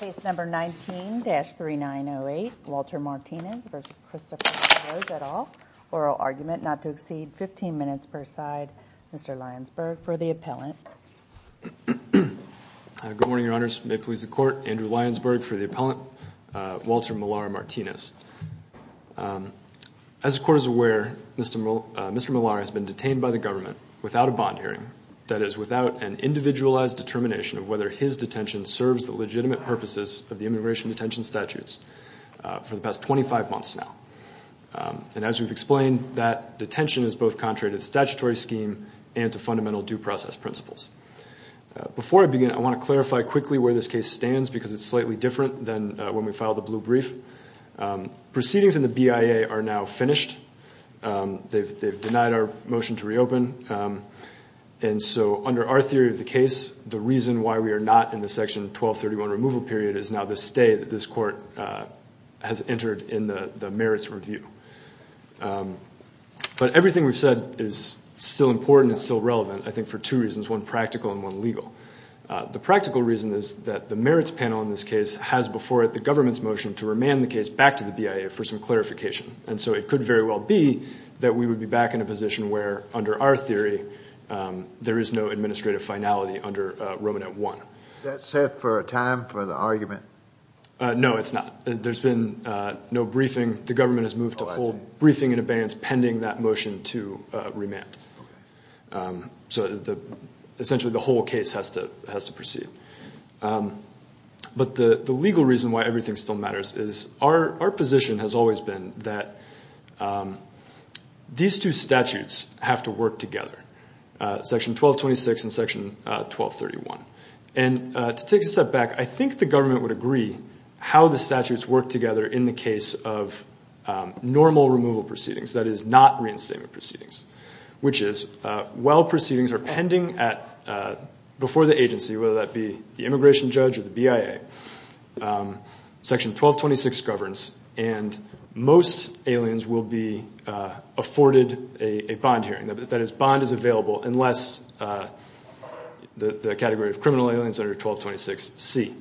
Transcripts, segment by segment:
Case number 19-3908, Walter Martinez v. Christopher LaRose et al. Oral argument not to exceed 15 minutes per side. Mr. Lyonsburg for the appellant. Good morning, Your Honors. May it please the Court. Andrew Lyonsburg for the appellant. Walter Millar Martinez. As the Court is aware, Mr. Millar has been detained by the government without a bond hearing, that is, without an individualized determination of whether his detention serves the legitimate purposes of the immigration detention statutes for the past 25 months now. And as we've explained, that detention is both contrary to the statutory scheme and to fundamental due process principles. Before I begin, I want to clarify quickly where this case stands because it's slightly different than when we filed the blue brief. Proceedings in the BIA are now finished. They've denied our motion to reopen. And so under our theory of the case, the reason why we are not in the Section 1231 removal period is now the stay that this Court has entered in the merits review. But everything we've said is still important and still relevant, I think, for two reasons, one practical and one legal. The practical reason is that the merits panel in this case has before it the government's motion to remand the case back to the BIA for some clarification, and so it could very well be that we would be back in a position where, under our theory, there is no administrative finality under Romanet I. Is that set for a time for the argument? No, it's not. There's been no briefing. The government has moved to hold briefing and abeyance pending that motion to remand. So essentially the whole case has to proceed. But the legal reason why everything still matters is our position has always been that these two statutes have to work together, Section 1226 and Section 1231. And to take a step back, I think the government would agree how the statutes work together in the case of normal removal proceedings, that is, not reinstatement proceedings, which is while proceedings are pending before the agency, whether that be the immigration judge or the BIA, Section 1226 governs and most aliens will be afforded a bond hearing, that is, bond is available unless the category of criminal aliens under 1226C.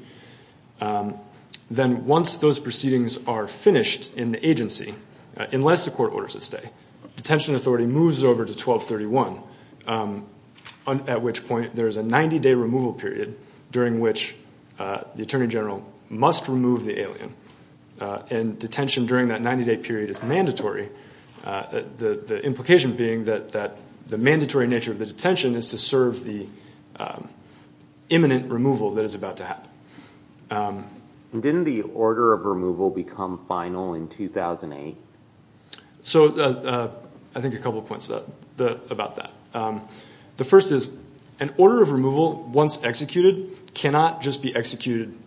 Then once those proceedings are finished in the agency, unless the court orders it stay, detention authority moves over to 1231, at which point there is a 90-day removal period during which the attorney general must remove the alien. And detention during that 90-day period is mandatory, the implication being that the mandatory nature of the detention is to serve the imminent removal that is about to happen. Didn't the order of removal become final in 2008? So I think a couple of points about that. The first is an order of removal, once executed, cannot just be executed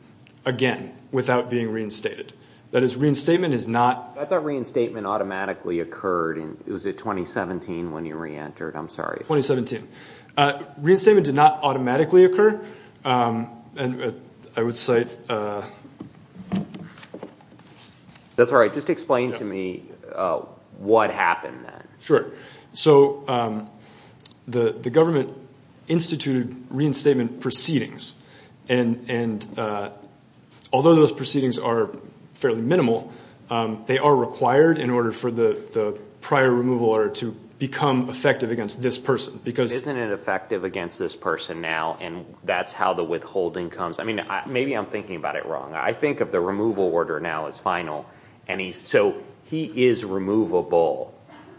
again without being reinstated. That is, reinstatement is not- I thought reinstatement automatically occurred in, was it 2017 when you reentered? I'm sorry. 2017. Reinstatement did not automatically occur, and I would cite- That's all right. Just explain to me what happened then. Sure. So the government instituted reinstatement proceedings, and although those proceedings are fairly minimal, they are required in order for the prior removal order to become effective against this person. Isn't it effective against this person now, and that's how the withholding comes? Maybe I'm thinking about it wrong. I think of the removal order now as final. So he is removable,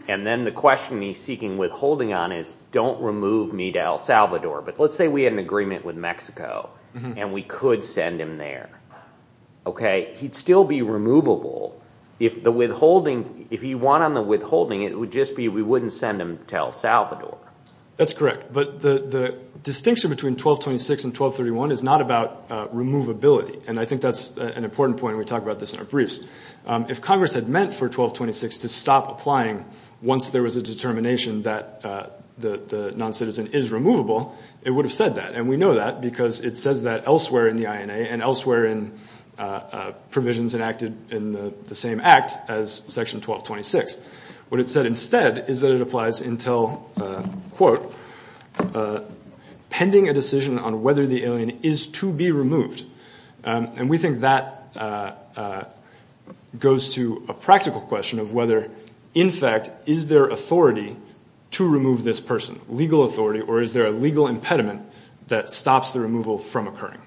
and then the question he's seeking withholding on is, don't remove me to El Salvador, but let's say we had an agreement with Mexico, and we could send him there. He'd still be removable. If he won on the withholding, it would just be we wouldn't send him to El Salvador. That's correct, but the distinction between 1226 and 1231 is not about removability, and I think that's an important point, and we talk about this in our briefs. If Congress had meant for 1226 to stop applying once there was a determination that the noncitizen is removable, it would have said that, and we know that because it says that elsewhere in the INA and elsewhere in provisions enacted in the same act as Section 1226. What it said instead is that it applies until, quote, pending a decision on whether the alien is to be removed, and we think that goes to a practical question of whether, in fact, is there authority to remove this person, legal authority, or is there a legal impediment that stops the removal from occurring?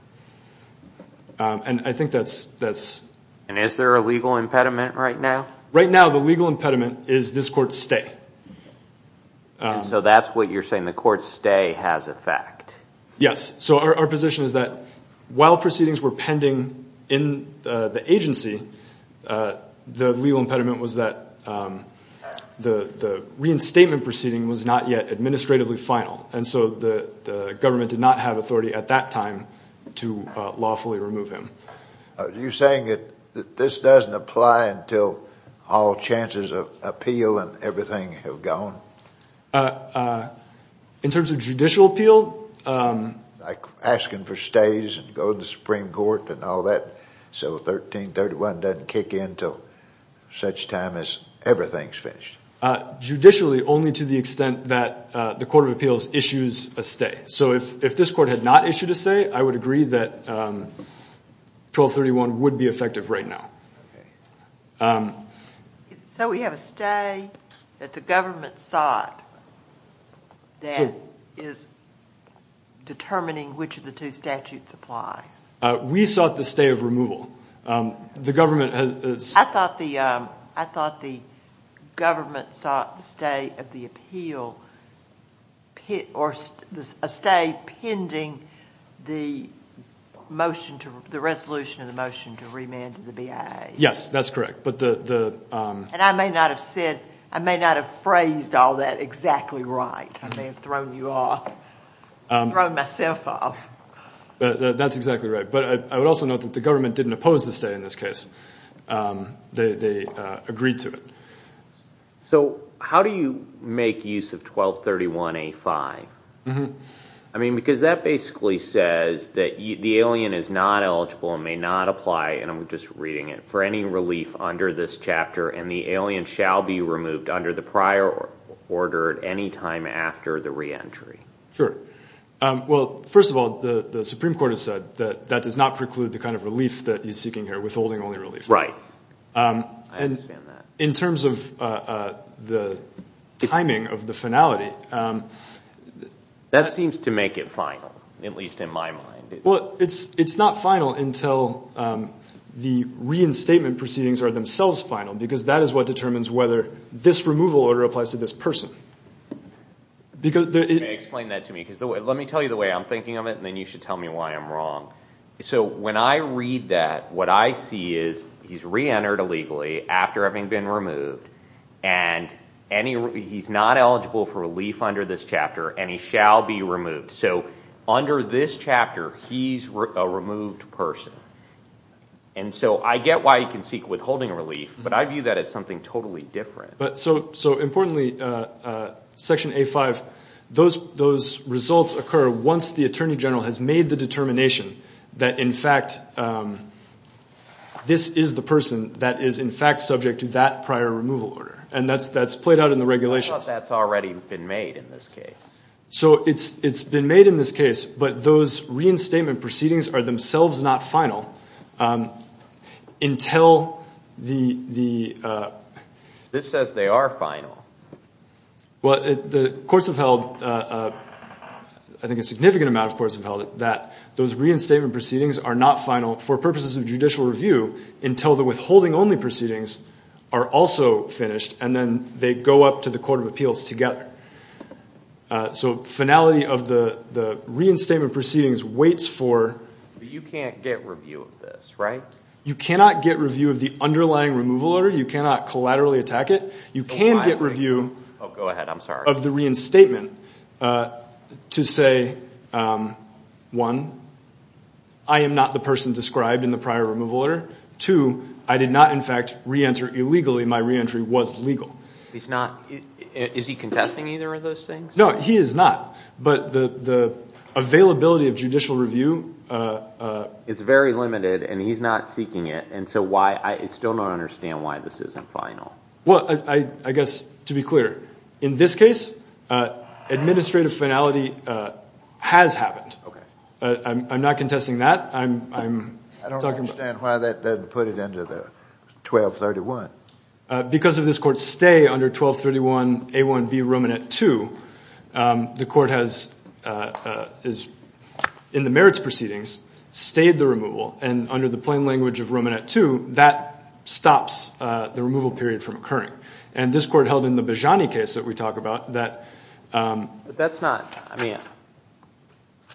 And I think that's- And is there a legal impediment right now? Right now the legal impediment is this court stay. So that's what you're saying, the court stay has effect. Yes, so our position is that while proceedings were pending in the agency, the legal impediment was that the reinstatement proceeding was not yet administratively final, and so the government did not have authority at that time to lawfully remove him. Are you saying that this doesn't apply until all chances of appeal and everything have gone? In terms of judicial appeal- Like asking for stays and going to the Supreme Court and all that, so 1331 doesn't kick in until such time as everything's finished. Judicially, only to the extent that the Court of Appeals issues a stay. Okay, so if this court had not issued a stay, I would agree that 1231 would be effective right now. So we have a stay that the government sought that is determining which of the two statutes applies. We sought the stay of removal. The government has- I thought the government sought the stay of the appeal, or a stay pending the resolution of the motion to remand to the BIA. Yes, that's correct. And I may not have phrased all that exactly right. I may have thrown you off, thrown myself off. That's exactly right. But I would also note that the government didn't oppose the stay in this case. They agreed to it. So how do you make use of 1231A5? Because that basically says that the alien is not eligible and may not apply, and I'm just reading it, for any relief under this chapter, and the alien shall be removed under the prior order at any time after the reentry. Sure. Well, first of all, the Supreme Court has said that that does not preclude the kind of relief that he's seeking here, withholding only relief. Right. I understand that. And in terms of the timing of the finality- That seems to make it final, at least in my mind. Well, it's not final until the reinstatement proceedings are themselves final, because that is what determines whether this removal order applies to this person. Explain that to me, because let me tell you the way I'm thinking of it, and then you should tell me why I'm wrong. So when I read that, what I see is he's reentered illegally after having been removed, and he's not eligible for relief under this chapter, and he shall be removed. So under this chapter, he's a removed person. And so I get why he can seek withholding relief, but I view that as something totally different. So importantly, Section A-5, those results occur once the Attorney General has made the determination that in fact this is the person that is in fact subject to that prior removal order, and that's played out in the regulations. I thought that's already been made in this case. So it's been made in this case, but those reinstatement proceedings are themselves not final until the- This says they are final. Well, the courts have held, I think a significant amount of courts have held it, that those reinstatement proceedings are not final for purposes of judicial review until the withholding-only proceedings are also finished, and then they go up to the Court of Appeals together. So finality of the reinstatement proceedings waits for- But you can't get review of this, right? You cannot get review of the underlying removal order. You cannot collaterally attack it. You can get review- Oh, go ahead. I'm sorry. Of the reinstatement to say, one, I am not the person described in the prior removal order. Two, I did not in fact reenter illegally. My reentry was legal. He's not- Is he contesting either of those things? No, he is not. But the availability of judicial review- It's very limited, and he's not seeking it. And so why- I still don't understand why this isn't final. Well, I guess, to be clear, in this case, administrative finality has happened. Okay. I'm not contesting that. I'm talking about- I don't understand why that doesn't put it into the 1231. Because of this court's stay under 1231 A1 v. Romanet II, the court has, in the merits proceedings, stayed the removal. And under the plain language of Romanet II, that stops the removal period from occurring. And this court held in the Bejani case that we talk about that- But that's not- I mean,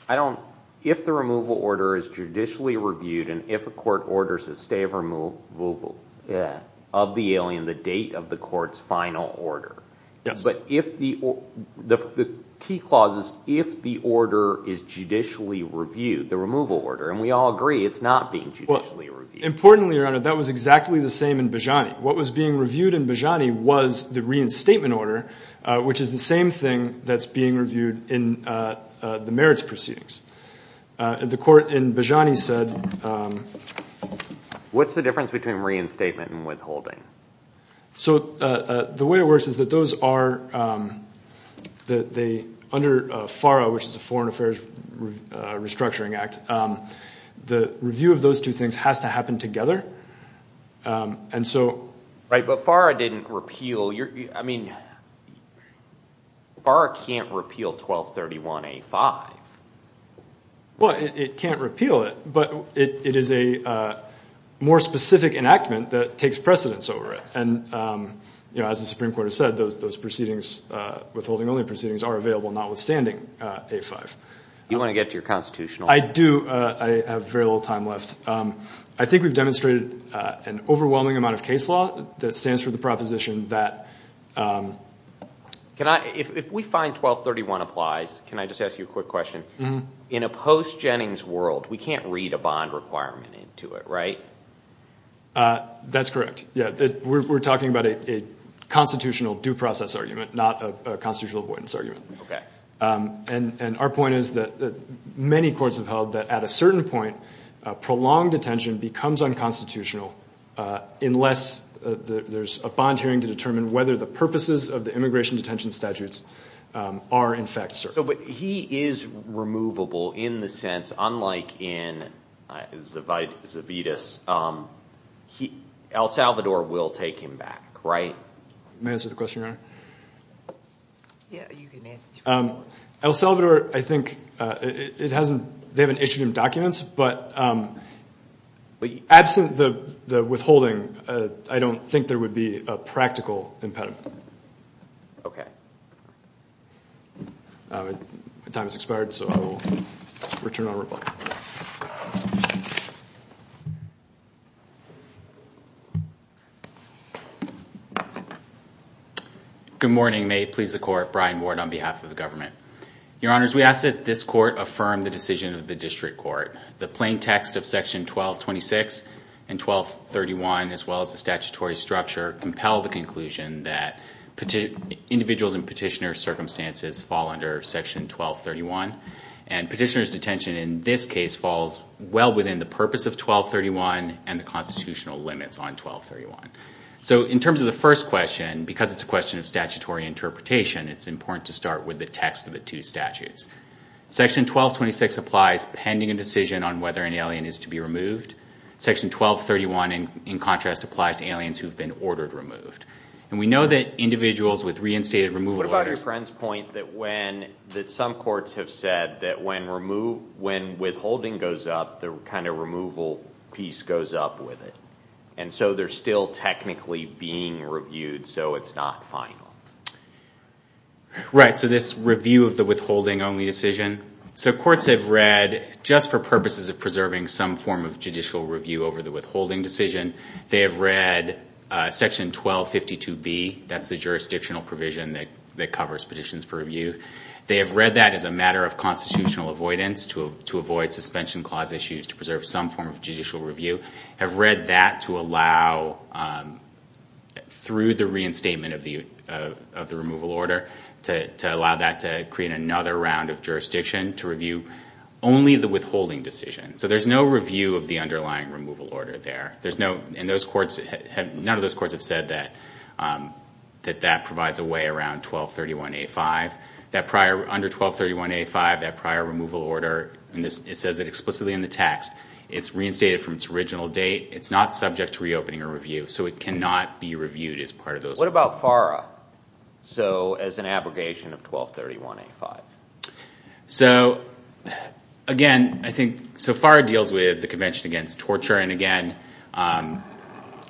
I don't- If the removal order is judicially reviewed and if a court orders a stay of removal of the alien, the date of the court's final order- Yes. But if the- The key clause is if the order is judicially reviewed, the removal order, and we all agree it's not being judicially reviewed. Importantly, Your Honor, that was exactly the same in Bejani. What was being reviewed in Bejani was the reinstatement order, which is the same thing that's being reviewed in the merits proceedings. The court in Bejani said- What's the difference between reinstatement and withholding? So the way it works is that those are- Under FARA, which is the Foreign Affairs Restructuring Act, the review of those two things has to happen together. And so- Right, but FARA didn't repeal- I mean, FARA can't repeal 1231A5. Well, it can't repeal it, but it is a more specific enactment that takes precedence over it. And, you know, as the Supreme Court has said, those proceedings, withholding-only proceedings, are available notwithstanding A5. You want to get to your constitutional- I do. I have very little time left. I think we've demonstrated an overwhelming amount of case law that stands for the proposition that- If we find 1231 applies, can I just ask you a quick question? In a post-Jennings world, we can't read a bond requirement into it, right? That's correct. We're talking about a constitutional due process argument, not a constitutional avoidance argument. And our point is that many courts have held that at a certain point, prolonged detention becomes unconstitutional unless there's a bond hearing to determine whether the purposes of the immigration detention statutes are, in fact, certain. But he is removable in the sense, unlike in Zavitas, El Salvador will take him back, right? May I answer the question, Your Honor? Yeah, you can answer. El Salvador, I think, it hasn't- they haven't issued him documents, but absent the withholding, I don't think there would be a practical impediment. Okay. My time has expired, so I will return on rebuttal. Good morning. May it please the Court. Brian Ward on behalf of the government. Your Honors, we ask that this Court affirm the decision of the District Court. The plain text of Section 1226 and 1231, as well as the statutory structure, compel the conclusion that individuals in petitioner circumstances fall under Section 1231. And petitioner's detention in this case falls well within the purpose of 1231 and the constitutional limits on 1231. So in terms of the first question, because it's a question of statutory interpretation, it's important to start with the text of the two statutes. Section 1226 applies pending a decision on whether an alien is to be removed. Section 1231, in contrast, applies to aliens who have been ordered removed. And we know that individuals with reinstated removal orders- What about your friend's point that when- that some courts have said that when withholding goes up, the kind of removal piece goes up with it. And so they're still technically being reviewed, so it's not final. Right, so this review of the withholding-only decision. So courts have read, just for purposes of preserving some form of judicial review over the withholding decision, they have read Section 1252B. That's the jurisdictional provision that covers petitions for review. They have read that as a matter of constitutional avoidance, to avoid suspension clause issues, to preserve some form of judicial review. Have read that to allow, through the reinstatement of the removal order, to allow that to create another round of jurisdiction to review only the withholding decision. So there's no review of the underlying removal order there. And none of those courts have said that that provides a way around 1231A5. Under 1231A5, that prior removal order, and it says it explicitly in the text, it's reinstated from its original date. It's not subject to reopening or review, so it cannot be reviewed as part of those. What about FARA, so as an abrogation of 1231A5? So again, I think, so FARA deals with the Convention Against Torture. And again,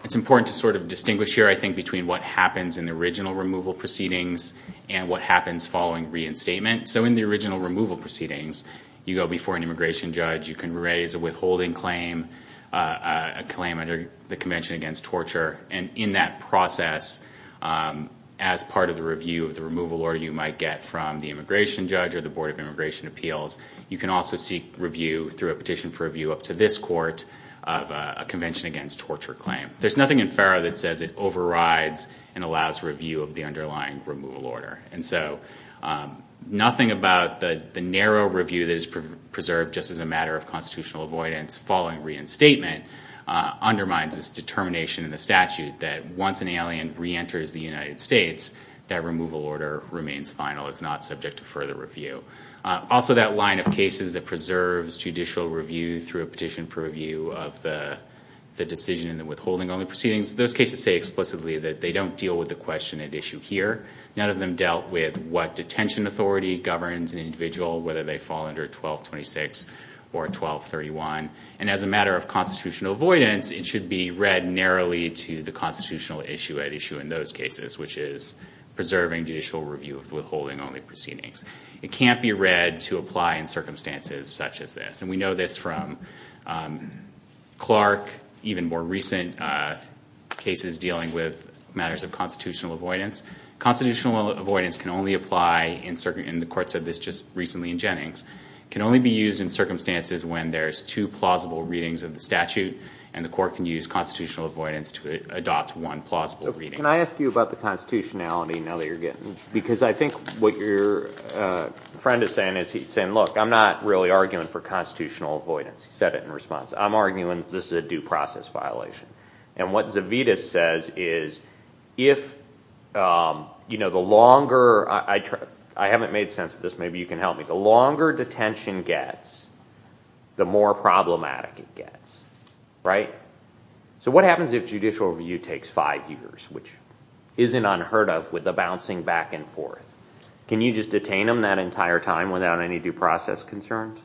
it's important to sort of distinguish here, I think, between what happens in the original removal proceedings and what happens following reinstatement. So in the original removal proceedings, you go before an immigration judge. You can raise a withholding claim, a claim under the Convention Against Torture. And in that process, as part of the review of the removal order you might get from the immigration judge or the Board of Immigration Appeals, you can also seek review through a petition for review up to this court of a Convention Against Torture claim. There's nothing in FARA that says it overrides and allows review of the underlying removal order. And so nothing about the narrow review that is preserved just as a matter of constitutional avoidance following reinstatement undermines this determination in the statute that once an alien reenters the United States, that removal order remains final. It's not subject to further review. Also, that line of cases that preserves judicial review through a petition for review of the decision in the withholding only proceedings, those cases say explicitly that they don't deal with the question at issue here. None of them dealt with what detention authority governs an individual, whether they fall under 1226 or 1231. And as a matter of constitutional avoidance, it should be read narrowly to the constitutional issue at issue in those cases, which is preserving judicial review of withholding only proceedings. It can't be read to apply in circumstances such as this. And we know this from Clark, even more recent cases dealing with matters of constitutional avoidance. Constitutional avoidance can only apply, and the court said this just recently in Jennings, can only be used in circumstances when there's two plausible readings of the statute and the court can use constitutional avoidance to adopt one plausible reading. Can I ask you about the constitutionality now that you're getting? Because I think what your friend is saying is he's saying, look, I'm not really arguing for constitutional avoidance. He said it in response. I'm arguing this is a due process violation. And what Zavita says is if the longer ‑‑ I haven't made sense of this. Maybe you can help me. The longer detention gets, the more problematic it gets. Right? So what happens if judicial review takes five years, which isn't unheard of with the bouncing back and forth? Can you just detain them that entire time without any due process concerns?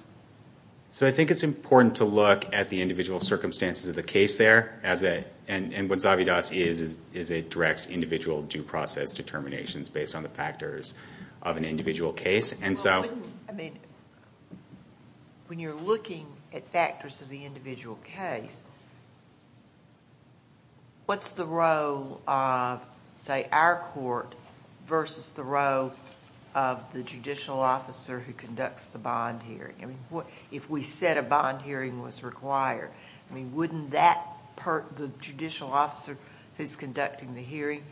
So I think it's important to look at the individual circumstances of the case there. And what Zavita says is it directs individual due process determinations based on the factors of an individual case. When you're looking at factors of the individual case, what's the role of, say, our court versus the role of the judicial officer who conducts the bond hearing? If we said a bond hearing was required, wouldn't the judicial officer who's conducting the hearing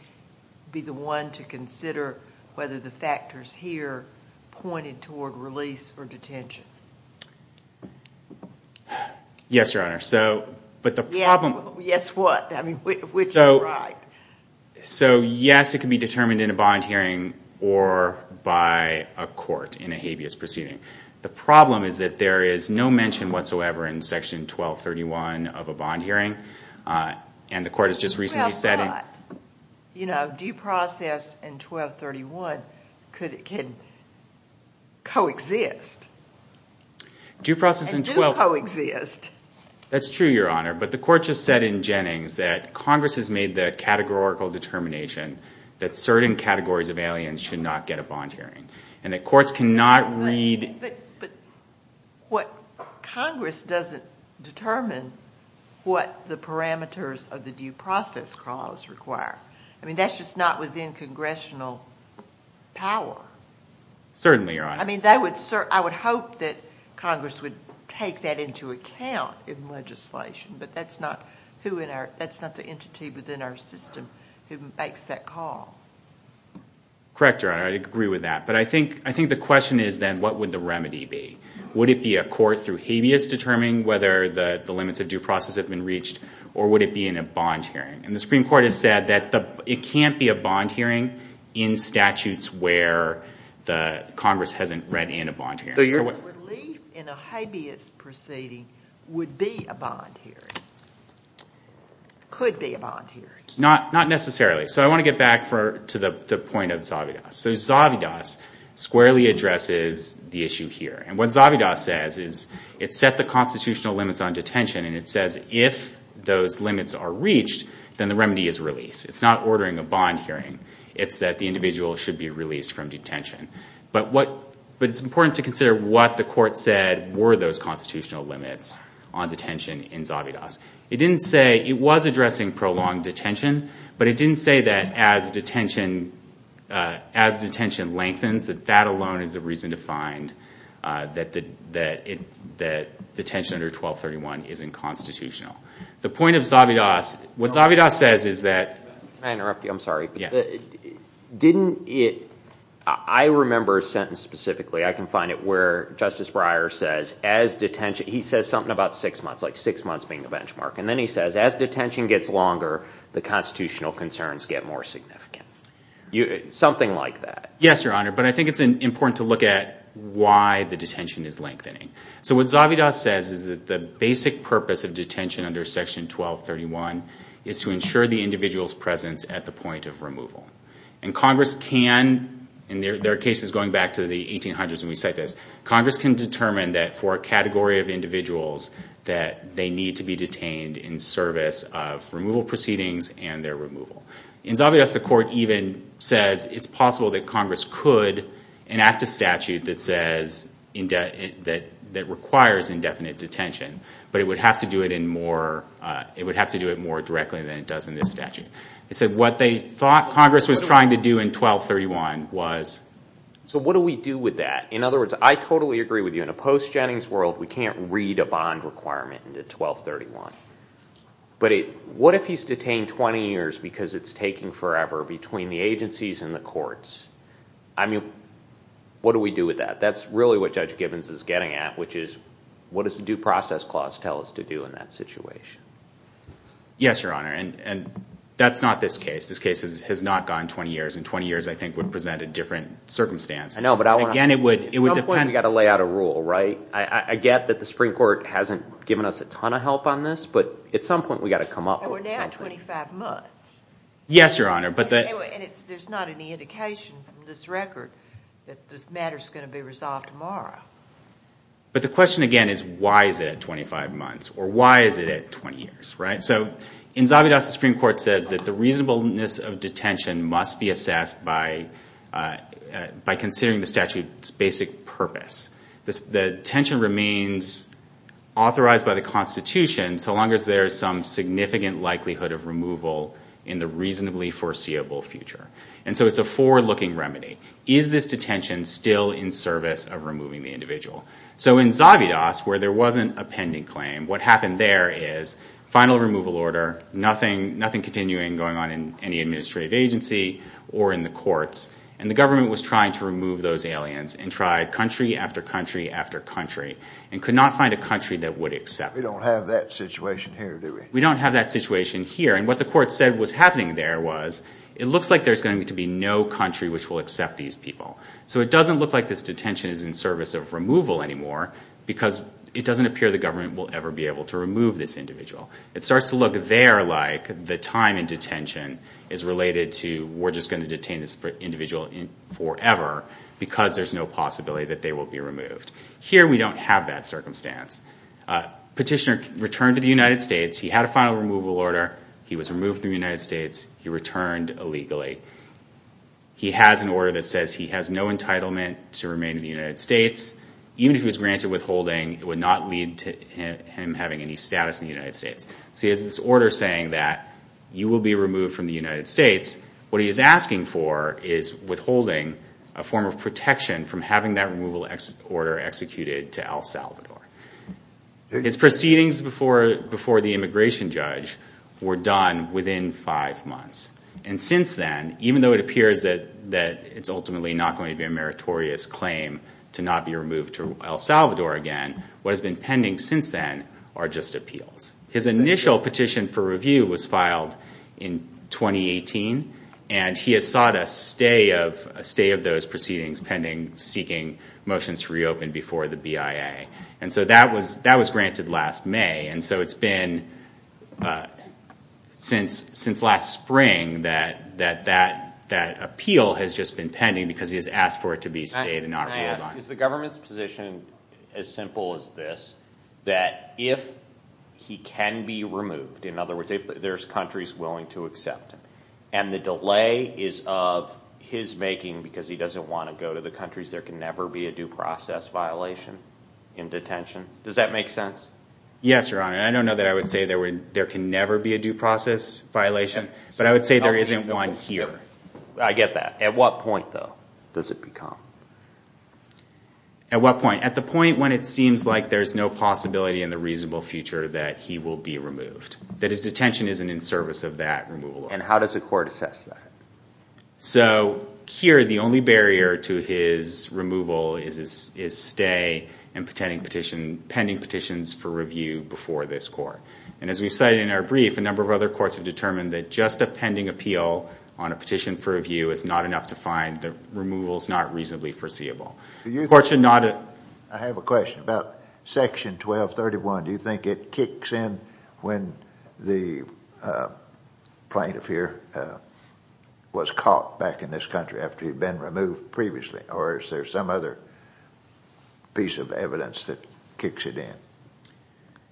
be the one to consider whether the factors here pointed toward release or detention? Yes, Your Honor. Yes, what? So yes, it can be determined in a bond hearing or by a court in a habeas proceeding. The problem is that there is no mention whatsoever in Section 1231 of a bond hearing, and the court has just recently said it. Well, but, you know, due process and 1231 can coexist. And do coexist. That's true, Your Honor. But the court just said in Jennings that Congress has made the categorical determination that certain categories of aliens should not get a bond hearing and that courts cannot read. But Congress doesn't determine what the parameters of the due process clause require. I mean, that's just not within congressional power. Certainly, Your Honor. I mean, I would hope that Congress would take that into account in legislation, but that's not the entity within our system who makes that call. Correct, Your Honor. I agree with that. But I think the question is then what would the remedy be? Would it be a court through habeas determining whether the limits of due process have been reached, or would it be in a bond hearing? And the Supreme Court has said that it can't be a bond hearing in statutes where Congress hasn't read in a bond hearing. So your belief in a habeas proceeding would be a bond hearing, could be a bond hearing. Not necessarily. So I want to get back to the point of Zavidas. So Zavidas squarely addresses the issue here. And what Zavidas says is it set the constitutional limits on detention, and it says if those limits are reached, then the remedy is release. It's not ordering a bond hearing. It's that the individual should be released from detention. But it's important to consider what the court said were those constitutional limits on detention in Zavidas. It didn't say it was addressing prolonged detention, but it didn't say that as detention lengthens, that that alone is a reason to find that detention under 1231 isn't constitutional. The point of Zavidas, what Zavidas says is that – Can I interrupt you? I'm sorry. Yes. Didn't it – I remember a sentence specifically. I can find it where Justice Breyer says as detention – he says something about six months, like six months being the benchmark. And then he says as detention gets longer, the constitutional concerns get more significant. Something like that. Yes, Your Honor, but I think it's important to look at why the detention is lengthening. So what Zavidas says is that the basic purpose of detention under Section 1231 is to ensure the individual's presence at the point of removal. And Congress can, in their cases going back to the 1800s when we cite this, Congress can determine that for a category of individuals that they need to be detained in service of removal proceedings and their removal. In Zavidas, the court even says it's possible that Congress could enact a statute that says – that requires indefinite detention, but it would have to do it in more – it would have to do it more directly than it does in this statute. It said what they thought Congress was trying to do in 1231 was – So what do we do with that? In other words, I totally agree with you. In a post-Jennings world, we can't read a bond requirement into 1231. But what if he's detained 20 years because it's taking forever between the agencies and the courts? I mean, what do we do with that? That's really what Judge Gibbons is getting at, which is what does the Due Process Clause tell us to do in that situation? Yes, Your Honor, and that's not this case. This case has not gone 20 years, and 20 years I think would present a different circumstance. I know, but I want to – Again, it would depend – At some point we've got to lay out a rule, right? I get that the Supreme Court hasn't given us a ton of help on this, but at some point we've got to come up with something. And we're now at 25 months. Yes, Your Honor, but the – And there's not any indication from this record that this matter is going to be resolved tomorrow. But the question, again, is why is it at 25 months? Or why is it at 20 years, right? So in Zavidas, the Supreme Court says that the reasonableness of detention must be assessed by considering the statute's basic purpose. The detention remains authorized by the Constitution so long as there is some significant likelihood of removal in the reasonably foreseeable future. And so it's a forward-looking remedy. Is this detention still in service of removing the individual? So in Zavidas, where there wasn't a pending claim, what happened there is final removal order, nothing continuing going on in any administrative agency or in the courts, and the government was trying to remove those aliens and tried country after country after country and could not find a country that would accept them. We don't have that situation here, do we? We don't have that situation here. And what the court said was happening there was it looks like there's going to be no country which will accept these people. So it doesn't look like this detention is in service of removal anymore because it doesn't appear the government will ever be able to remove this individual. It starts to look there like the time in detention is related to we're just going to detain this individual forever because there's no possibility that they will be removed. Here we don't have that circumstance. Petitioner returned to the United States. He had a final removal order. He was removed from the United States. He returned illegally. He has an order that says he has no entitlement to remain in the United States. Even if he was granted withholding, it would not lead to him having any status in the United States. So he has this order saying that you will be removed from the United States. What he is asking for is withholding a form of protection from having that removal order executed to El Salvador. His proceedings before the immigration judge were done within five months. Since then, even though it appears that it's ultimately not going to be a meritorious claim to not be removed to El Salvador again, what has been pending since then are just appeals. His initial petition for review was filed in 2018. He has sought a stay of those proceedings pending, seeking motions to reopen before the BIA. That was granted last May. So it's been since last spring that that appeal has just been pending because he has asked for it to be stayed and not reviewed. Can I ask, is the government's position as simple as this, that if he can be removed, in other words, if there are countries willing to accept him, and the delay is of his making because he doesn't want to go to the countries, there can never be a due process violation in detention? Does that make sense? Yes, Your Honor. I don't know that I would say there can never be a due process violation, but I would say there isn't one here. I get that. At what point, though, does it become? At what point? At the point when it seems like there's no possibility in the reasonable future that he will be removed, that his detention isn't in service of that removal order. And how does the court assess that? So here, the only barrier to his removal is his stay and pending petitions for review before this court. And as we've cited in our brief, a number of other courts have determined that just a pending appeal on a petition for review is not enough to find the removal is not reasonably foreseeable. I have a question. About section 1231, do you think it kicks in when the plaintiff here was caught back in this country after he'd been removed previously? Or is there some other piece of evidence that kicks it in?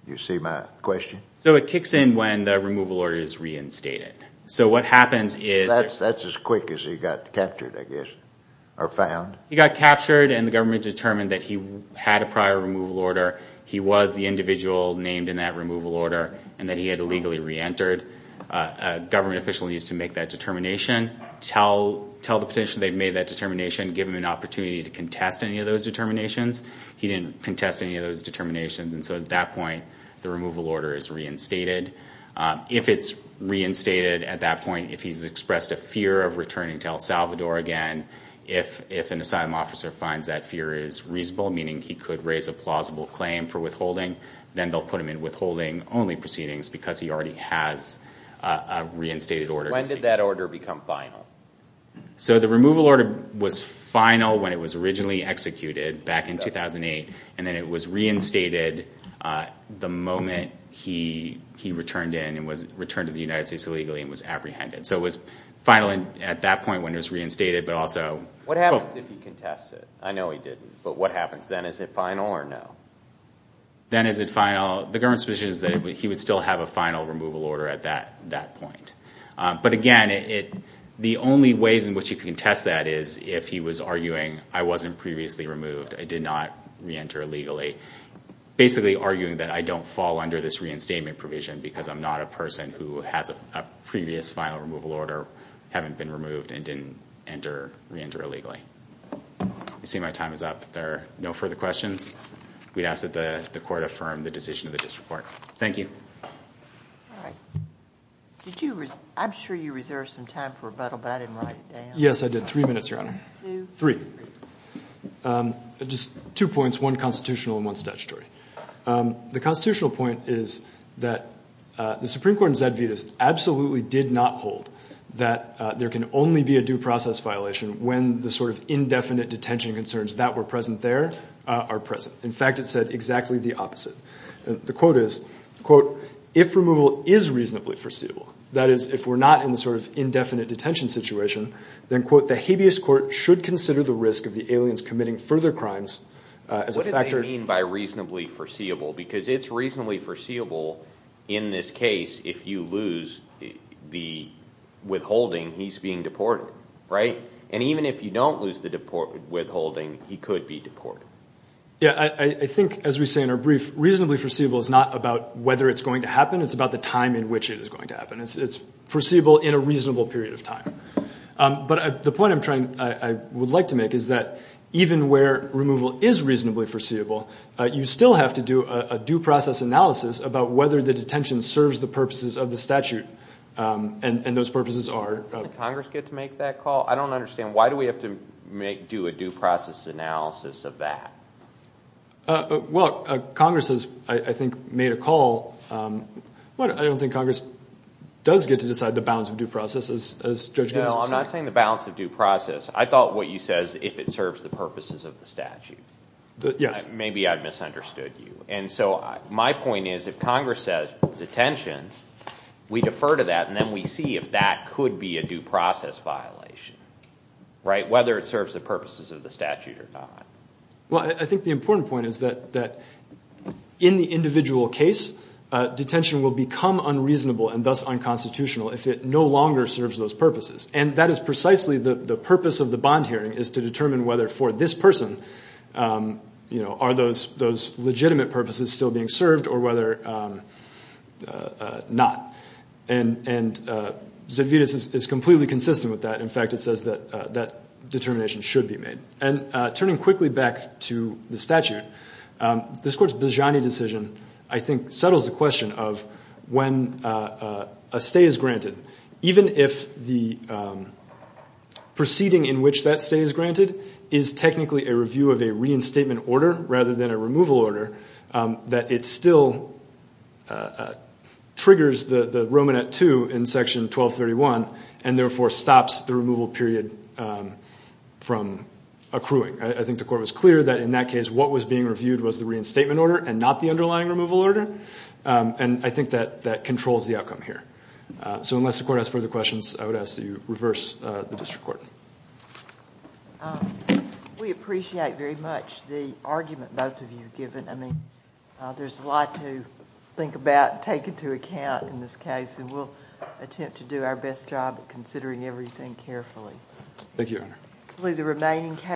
You see my question? So it kicks in when the removal order is reinstated. So what happens is... That's as quick as he got captured, I guess, or found. He got captured and the government determined that he had a prior removal order. He was the individual named in that removal order and that he had illegally reentered. A government official needs to make that determination, tell the petitioner they've made that determination, give him an opportunity to contest any of those determinations. He didn't contest any of those determinations. And so at that point, the removal order is reinstated. If it's reinstated at that point, if he's expressed a fear of returning to El Salvador again, if an asylum officer finds that fear is reasonable, meaning he could raise a plausible claim for withholding, then they'll put him in withholding-only proceedings because he already has a reinstated order. When did that order become final? So the removal order was final when it was originally executed back in 2008, and then it was reinstated the moment he returned in and returned to the United States illegally and was apprehended. So it was final at that point when it was reinstated, but also... What happens if he contests it? I know he didn't, but what happens then? Is it final or no? Then is it final? The government's position is that he would still have a final removal order at that point. But again, the only ways in which you can contest that is if he was arguing, I wasn't previously removed, I did not reenter illegally, basically arguing that I don't fall under this reinstatement provision because I'm not a person who has a previous final removal order, haven't been removed, and didn't reenter illegally. I see my time is up. If there are no further questions, we ask that the Court affirm the decision of the District Court. Thank you. I'm sure you reserved some time for rebuttal, but I didn't write it down. Yes, I did. Three minutes, Your Honor. Two, three. Just two points, one constitutional and one statutory. The constitutional point is that the Supreme Court in Zed Vetus absolutely did not hold that there can only be a due process violation when the sort of indefinite detention concerns that were present there are present. In fact, it said exactly the opposite. The quote is, quote, if removal is reasonably foreseeable, that is if we're not in the sort of indefinite detention situation, then, quote, the habeas court should consider the risk of the aliens committing further crimes as a factor. What do you mean by reasonably foreseeable? Because it's reasonably foreseeable in this case if you lose the withholding, he's being deported, right? And even if you don't lose the withholding, he could be deported. Yes, I think, as we say in our brief, reasonably foreseeable is not about whether it's going to happen. It's about the time in which it is going to happen. It's foreseeable in a reasonable period of time. But the point I would like to make is that even where removal is reasonably foreseeable, you still have to do a due process analysis about whether the detention serves the purposes of the statute, and those purposes are- Doesn't Congress get to make that call? I don't understand. Why do we have to do a due process analysis of that? Well, Congress has, I think, made a call. Well, I don't think Congress does get to decide the balance of due process, as Judge Gooding said. No, I'm not saying the balance of due process. I thought what you said is if it serves the purposes of the statute. Yes. Maybe I've misunderstood you. And so my point is if Congress says detention, we defer to that, and then we see if that could be a due process violation, right, whether it serves the purposes of the statute or not. Well, I think the important point is that in the individual case, detention will become unreasonable and thus unconstitutional if it no longer serves those purposes. And that is precisely the purpose of the bond hearing, is to determine whether for this person, are those legitimate purposes still being served or whether not. And Zedvitas is completely consistent with that. In fact, it says that that determination should be made. And turning quickly back to the statute, this Court's Bozziani decision, I think, settles the question of when a stay is granted. Even if the proceeding in which that stay is granted is technically a review of a reinstatement order rather than a removal order, that it still triggers the Romanet II in Section 1231 and therefore stops the removal period from accruing. I think the Court was clear that in that case what was being reviewed was the reinstatement order and not the underlying removal order, and I think that that controls the outcome here. So unless the Court has further questions, I would ask that you reverse the district court. We appreciate very much the argument both of you have given. I mean, there's a lot to think about and take into account in this case, and we'll attempt to do our best job of considering everything carefully. Thank you, Your Honor.